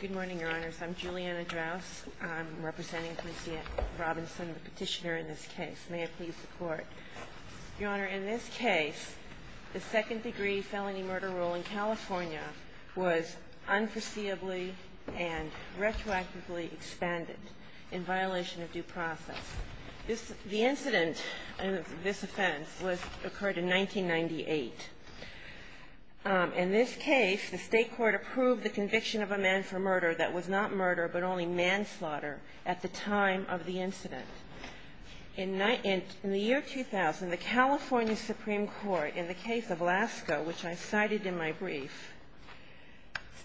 Good morning, Your Honors. I'm Julianna Drouse. I'm representing Conciette Robinson, the petitioner in this case. May I please report? Your Honor, in this case, the second-degree felony murder rule in California was unforeseeably and retroactively expanded in violation of due process. The incident of this offense occurred in 1998. In this case, the state court approved the conviction of a man for murder that was not murder but only manslaughter at the time of the incident. In the year 2000, the California Supreme Court, in the case of Lasko, which I cited in my brief,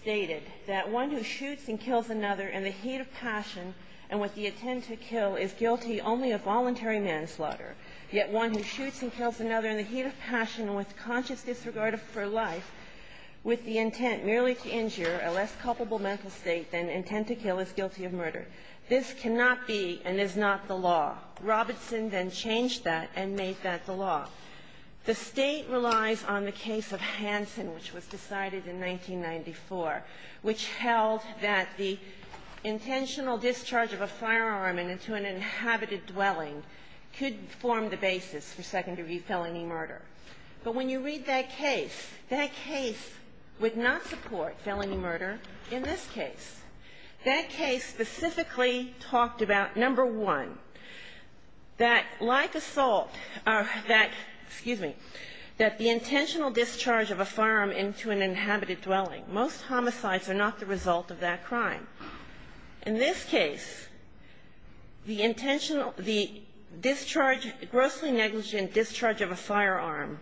stated that one who shoots and kills another in the heat of passion and with the intent to kill is guilty only of voluntary manslaughter, yet one who shoots and kills another in the heat of passion and with conscious disregard for life, with the intent merely to injure, a less culpable mental state than intent to kill, is guilty of murder. This cannot be and is not the law. Robertson then changed that and made that the law. The State relies on the case of Hansen, which was decided in 1994, which held that the intentional discharge of a firearm into an inhabited dwelling could form the basis for second-degree felony murder. But when you read that case, that case would not support felony murder in this case. That case specifically talked about, number one, that like assault or that, excuse me, that the intentional discharge of a firearm into an inhabited dwelling, most homicides are not the result of that crime. In this case, the intentional, the discharge, grossly negligent discharge of a firearm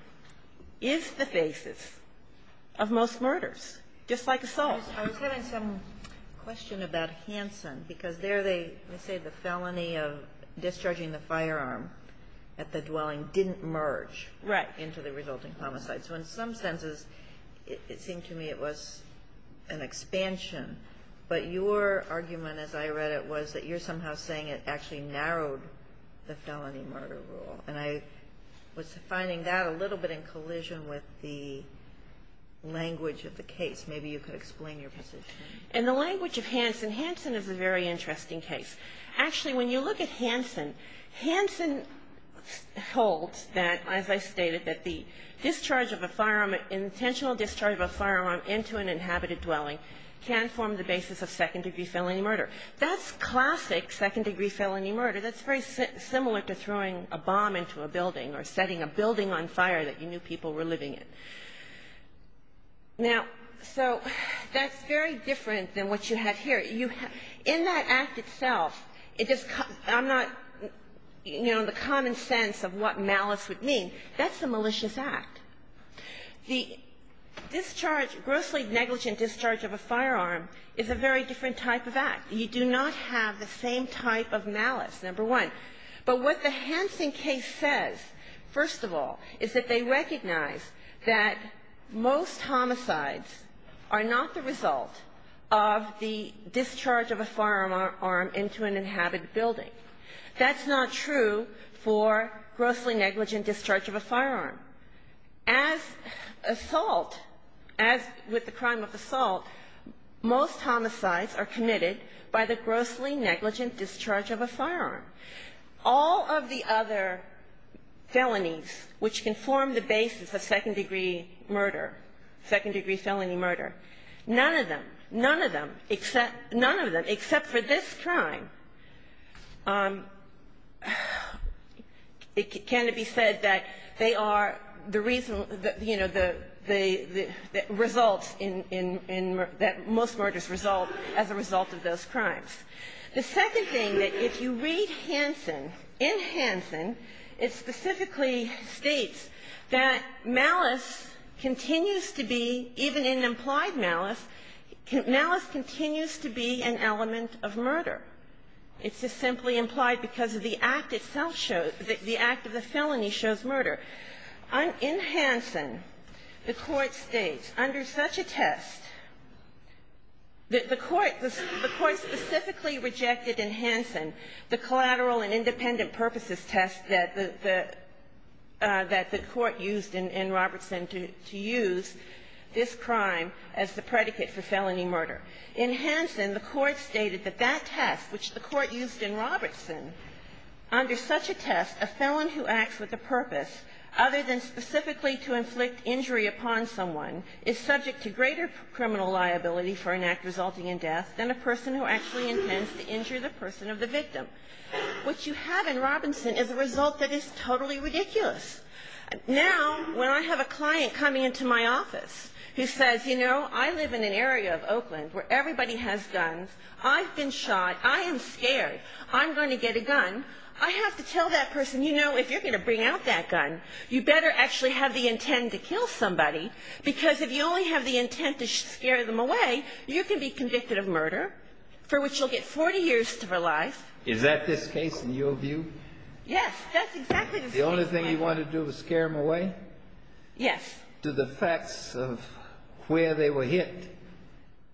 is the basis of most murders, just like assault. I was having some question about Hansen, because there they say the felony of discharging the firearm at the dwelling didn't merge into the resulting homicide. So in some senses, it seemed to me it was an expansion. But your argument, as I read it, was that you're somehow saying it actually narrowed the felony murder rule. And I was finding that a little bit in collision with the language of the case. Maybe you could explain your position. And the language of Hansen, Hansen is a very interesting case. Actually, when you look at Hansen, Hansen holds that, as I stated, that the discharge of a firearm, intentional discharge of a firearm into an inhabited dwelling can form the basis of second-degree felony murder. That's classic second-degree felony murder. That's very similar to throwing a bomb into a building or setting a building on fire that you knew people were living in. Now, so that's very different than what you have here. In that act itself, I'm not, you know, in the common sense of what malice would mean, that's a malicious act. The discharge, grossly negligent discharge of a firearm is a very different type of act. You do not have the same type of malice, number one. But what the Hansen case says, first of all, is that they recognize that most homicides are not the result of the discharge of a firearm into an inhabited building. That's not true for grossly negligent discharge of a firearm. As assault, as with the crime of assault, most homicides are committed by the grossly negligent discharge of a firearm. All of the other felonies which can form the basis of second-degree murder, second-degree felony murder, none of them, none of them, none of them except for this crime, it can be said that they are the reason, you know, the results in, that most murders result as a result of those crimes. The second thing that if you read Hansen, in Hansen it specifically states that malice continues to be, even in implied malice, malice continues to be an element of murder. It's just simply implied because of the act itself shows, the act of the felony shows murder. In Hansen, the Court states, under such a test that the Court, the Court specifically rejected in Hansen the collateral and independent purposes test that the, that the Court used in Robertson to use this crime as the predicate for felony murder. In Hansen, the Court stated that that test, which the Court used in Robertson, under such a test, a felon who acts with a purpose other than specifically to inflict injury upon someone is subject to greater criminal liability for an act resulting in death than a person who actually intends to injure the person of the victim. What you have in Robinson is a result that is totally ridiculous. Now, when I have a client coming into my office who says, you know, I live in an area of Oakland where everybody has guns, I've been shot, I am scared, I'm going to get a gun, I have to tell that person, you know, if you're going to bring out that gun, you better actually have the intent to kill somebody because if you only have the intent to scare them away, you can be convicted of murder for which you'll get 40 years to life. Is that this case in your view? Yes, that's exactly the case. The only thing you want to do is scare them away? Yes. Do the facts of where they were hit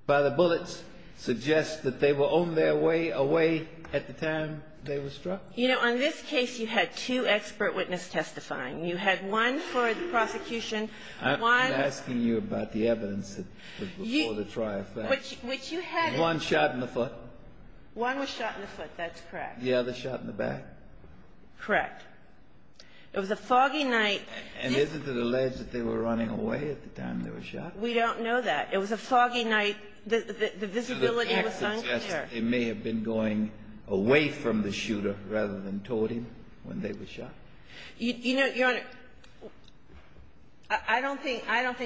by the bullets suggest that they were on their way away at the time they were struck? You know, on this case, you had two expert witness testifying. You had one for the prosecution, one... I'm asking you about the evidence that was before the trial first. Which you had... One shot in the foot? One was shot in the foot, that's correct. The other shot in the back? Correct. It was a foggy night. And isn't it alleged that they were running away at the time they were shot? We don't know that. It was a foggy night. The visibility was unclear. It may have been going away from the shooter rather than toward him when they were shot. You know, Your Honor, I don't think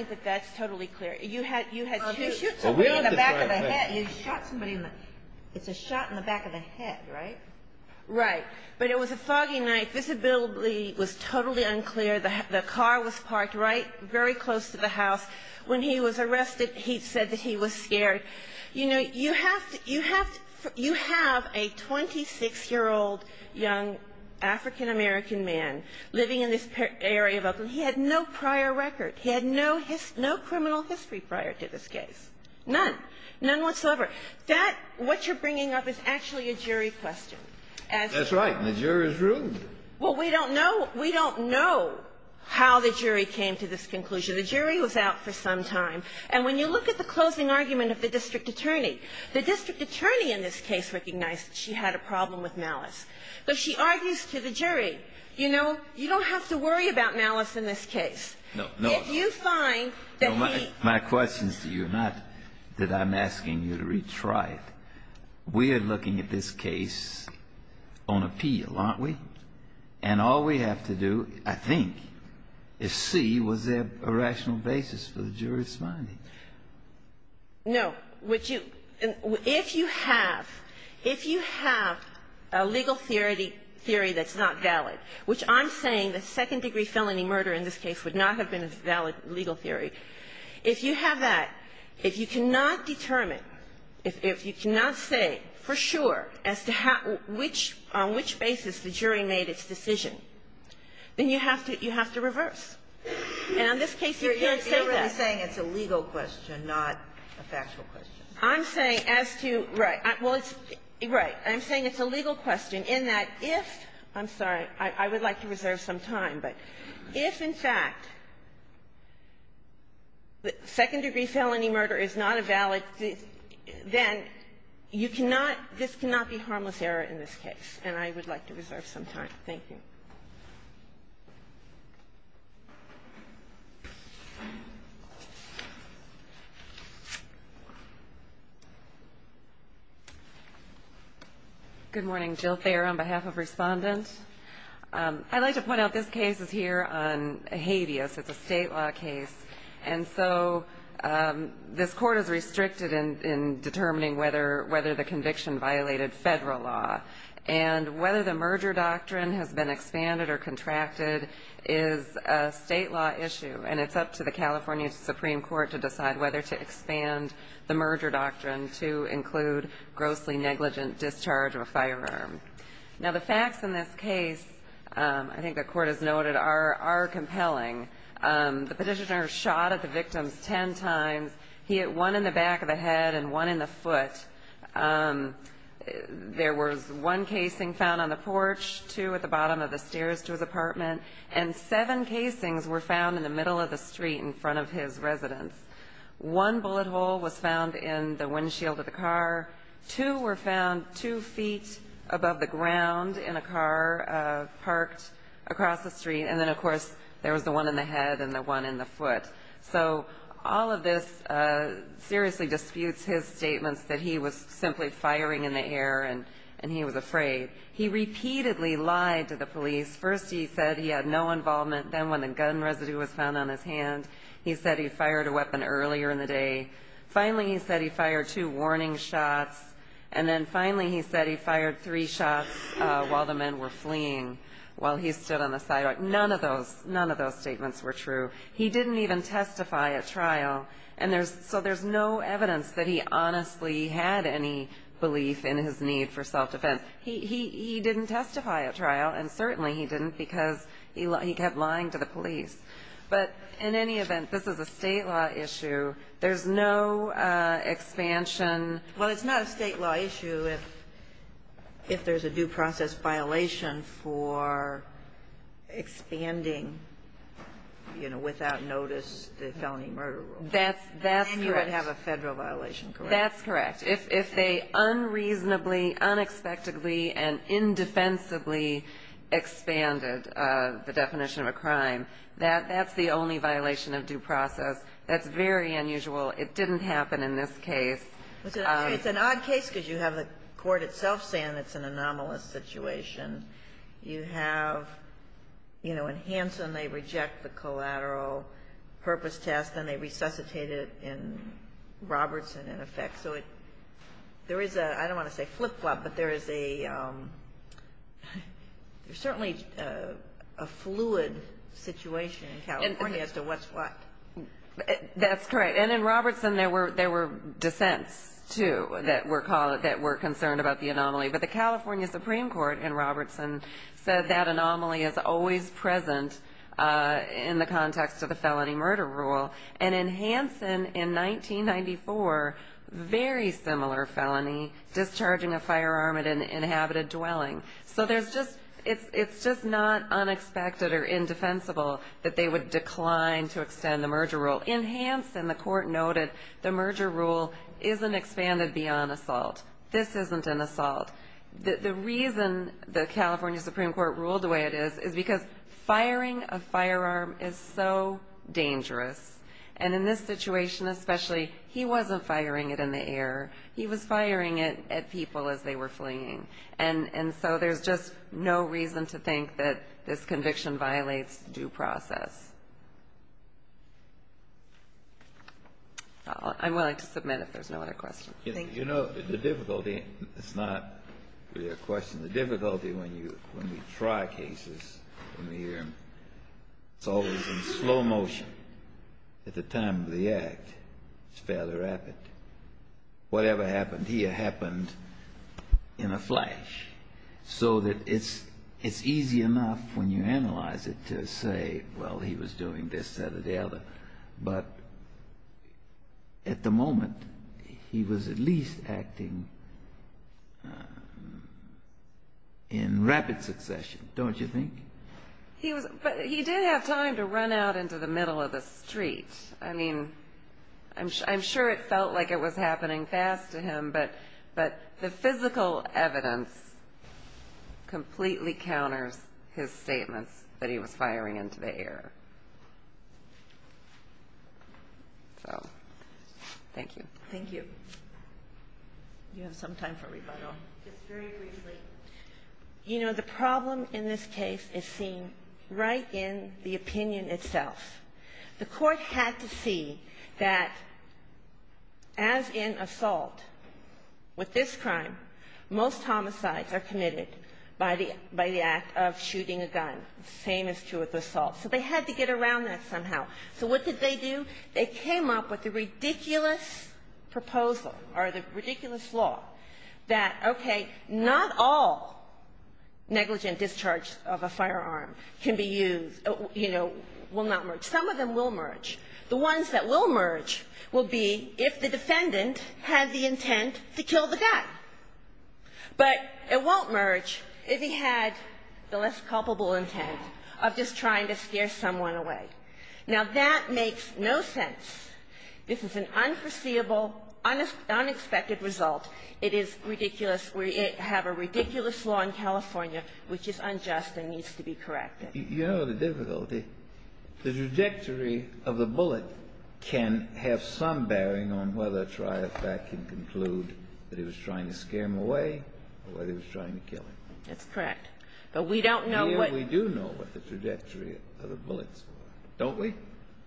that that's totally clear. You had two... You shoot somebody in the back of the head. You shot somebody in the... It's a shot in the back of the head, right? Right. But it was a foggy night. Visibility was totally unclear. The car was parked right very close to the house. When he was arrested, he said that he was scared. You know, you have to – you have to – you have a 26-year-old young African-American man living in this area of Oakland. He had no prior record. He had no criminal history prior to this case, none, none whatsoever. That – what you're bringing up is actually a jury question. That's right. And the jury is rude. Well, we don't know – we don't know how the jury came to this conclusion. The jury was out for some time. And when you look at the closing argument of the district attorney, the district attorney in this case recognized that she had a problem with malice. But she argues to the jury, you know, you don't have to worry about malice in this case if you find that he... My question is to you, not that I'm asking you to retry it. We are looking at this case on appeal, aren't we? And all we have to do, I think, is see was there a rational basis for the jury's finding. No. Would you – if you have – if you have a legal theory that's not valid, which I'm saying the second-degree felony murder in this case would not have been a valid legal theory, if you have that, if you cannot determine, if you cannot say for sure as to which – on which basis the jury made its decision, then you have to – you have to reverse. And in this case, you can't say that. You're really saying it's a legal question, not a factual question. I'm saying as to – right. Well, it's – right. I'm saying it's a legal question in that if – I'm sorry. I would like to reserve some time. But if, in fact, the second-degree felony murder is not a valid – then you cannot – this cannot be harmless error in this case. And I would like to reserve some time. MS. GOTTLIEB Good morning. Jill Thayer on behalf of Respondent. I'd like to point out this case is here on habeas. It's a State law case. And so this Court is restricted in determining whether – whether the conviction violated federal law. And whether the merger doctrine has been expanded or contracted is a State law issue. And it's up to the California Supreme Court to decide whether to expand the merger doctrine to include grossly negligent discharge of a firearm. Now, the facts in this case, I think the Court has noted, are – are compelling. The petitioner shot at the victims 10 times. He hit one in the back of the head and one in the foot. There was one casing found on the porch, two at the bottom of the stairs to his apartment. And seven casings were found in the middle of the street in front of his residence. One bullet hole was found in the windshield of the car. Two were found two feet above the ground in a car parked across the street. And then, of course, there was the one in the head and the one in the foot. So all of this seriously disputes his statements that he was simply firing in the air and – and he was afraid. He repeatedly lied to the police. First, he said he had no involvement. Then, when the gun residue was found on his hand, he said he fired a weapon earlier in the day. Finally, he said he fired two warning shots. And then finally, he said he fired three shots while the men were fleeing while he stood on the sidewalk. None of those – none of those statements were true. He didn't even testify at trial. And there's – so there's no evidence that he honestly had any belief in his need for self-defense. He – he didn't testify at trial, and certainly he didn't, because he kept lying to the police. But in any event, this is a State law issue. There's no expansion. Well, it's not a State law issue if – if there's a due process violation for expanding, you know, without notice, the felony murder rule. That's – that's correct. Then you would have a Federal violation, correct? That's correct. If they unreasonably, unexpectedly, and indefensibly expanded the definition of a crime, that – that's the only violation of due process. That's very unusual. It didn't happen in this case. It's an odd case because you have the court itself saying it's an anomalous situation. You have, you know, in Hanson, they reject the collateral purpose test, and they resuscitate it in Robertson, in effect. So it – there is a – I don't want to say flip-flop, but there is a – there's certainly a fluid situation in California as to what's what. That's correct. And in Robertson, there were – there were dissents, too, that were – that were concerned about the anomaly. But the California Supreme Court in Robertson said that anomaly is always present in the context of the felony murder rule. And in Hanson, in 1994, very similar felony, discharging a firearm at an inhabited dwelling. So there's just – it's just not unexpected or indefensible that they would decline to extend the merger rule. In Hanson, the court noted the merger rule isn't expanded beyond assault. This isn't an assault. The reason the California Supreme Court ruled the way it is is because firing a firearm is so dangerous. And in this situation especially, he wasn't firing it in the air. He was firing it at people as they were fleeing. And so there's just no reason to think that this conviction violates due process. I'm willing to submit if there's no other questions. Thank you. You know, the difficulty – it's not really a question. The difficulty when you – when we try cases, when we – it's always in slow motion. At the time of the act, it's fairly rapid. Whatever happened here happened in a flash. So that it's – it's easy enough when you analyze it to say, well, he was doing this, that, or the other. But at the moment, he was at least acting in rapid succession, don't you think? He was – but he did have time to run out into the middle of the street. I mean, I'm sure it felt like it was happening fast to him. But the physical evidence completely counters his statements that he was firing into the air. So, thank you. Thank you. You have some time for rebuttal. Just very briefly. You know, the problem in this case is seen right in the opinion itself. The Court had to see that as in assault, with this crime, most homicides are committed by the act of shooting a gun, the same is true with assault. So they had to get around that somehow. So what did they do? They came up with a ridiculous proposal, or the ridiculous law, that, okay, not all negligent discharge of a firearm can be used, you know, will not merge. Some of them will merge. The ones that will merge will be if the defendant had the intent to kill the guy. But it won't merge if he had the less culpable intent of just trying to scare someone away. Now, that makes no sense. This is an unforeseeable, unexpected result. It is ridiculous. We have a ridiculous law in California which is unjust and needs to be corrected. You know the difficulty? The trajectory of the bullet can have some bearing on whether Triathlete can conclude that he was trying to scare him away or whether he was trying to kill him. That's correct. But we don't know what Here we do know what the trajectory of the bullets were, don't we?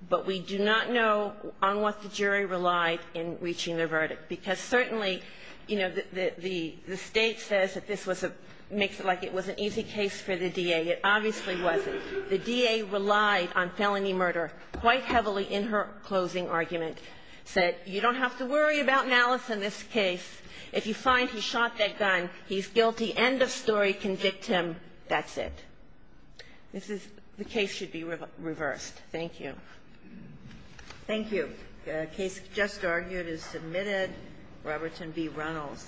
But we do not know on what the jury relied in reaching their verdict. Because certainly, you know, the State says that this was a makes it like it was an easy case for the DA. It obviously wasn't. The DA relied on felony murder quite heavily in her closing argument. Said, you don't have to worry about Malice in this case. If you find he shot that gun, he's guilty. End of story. Convict him. That's it. This is the case should be reversed. Thank you. Thank you. The case just argued is submitted. Robertson v. Reynolds.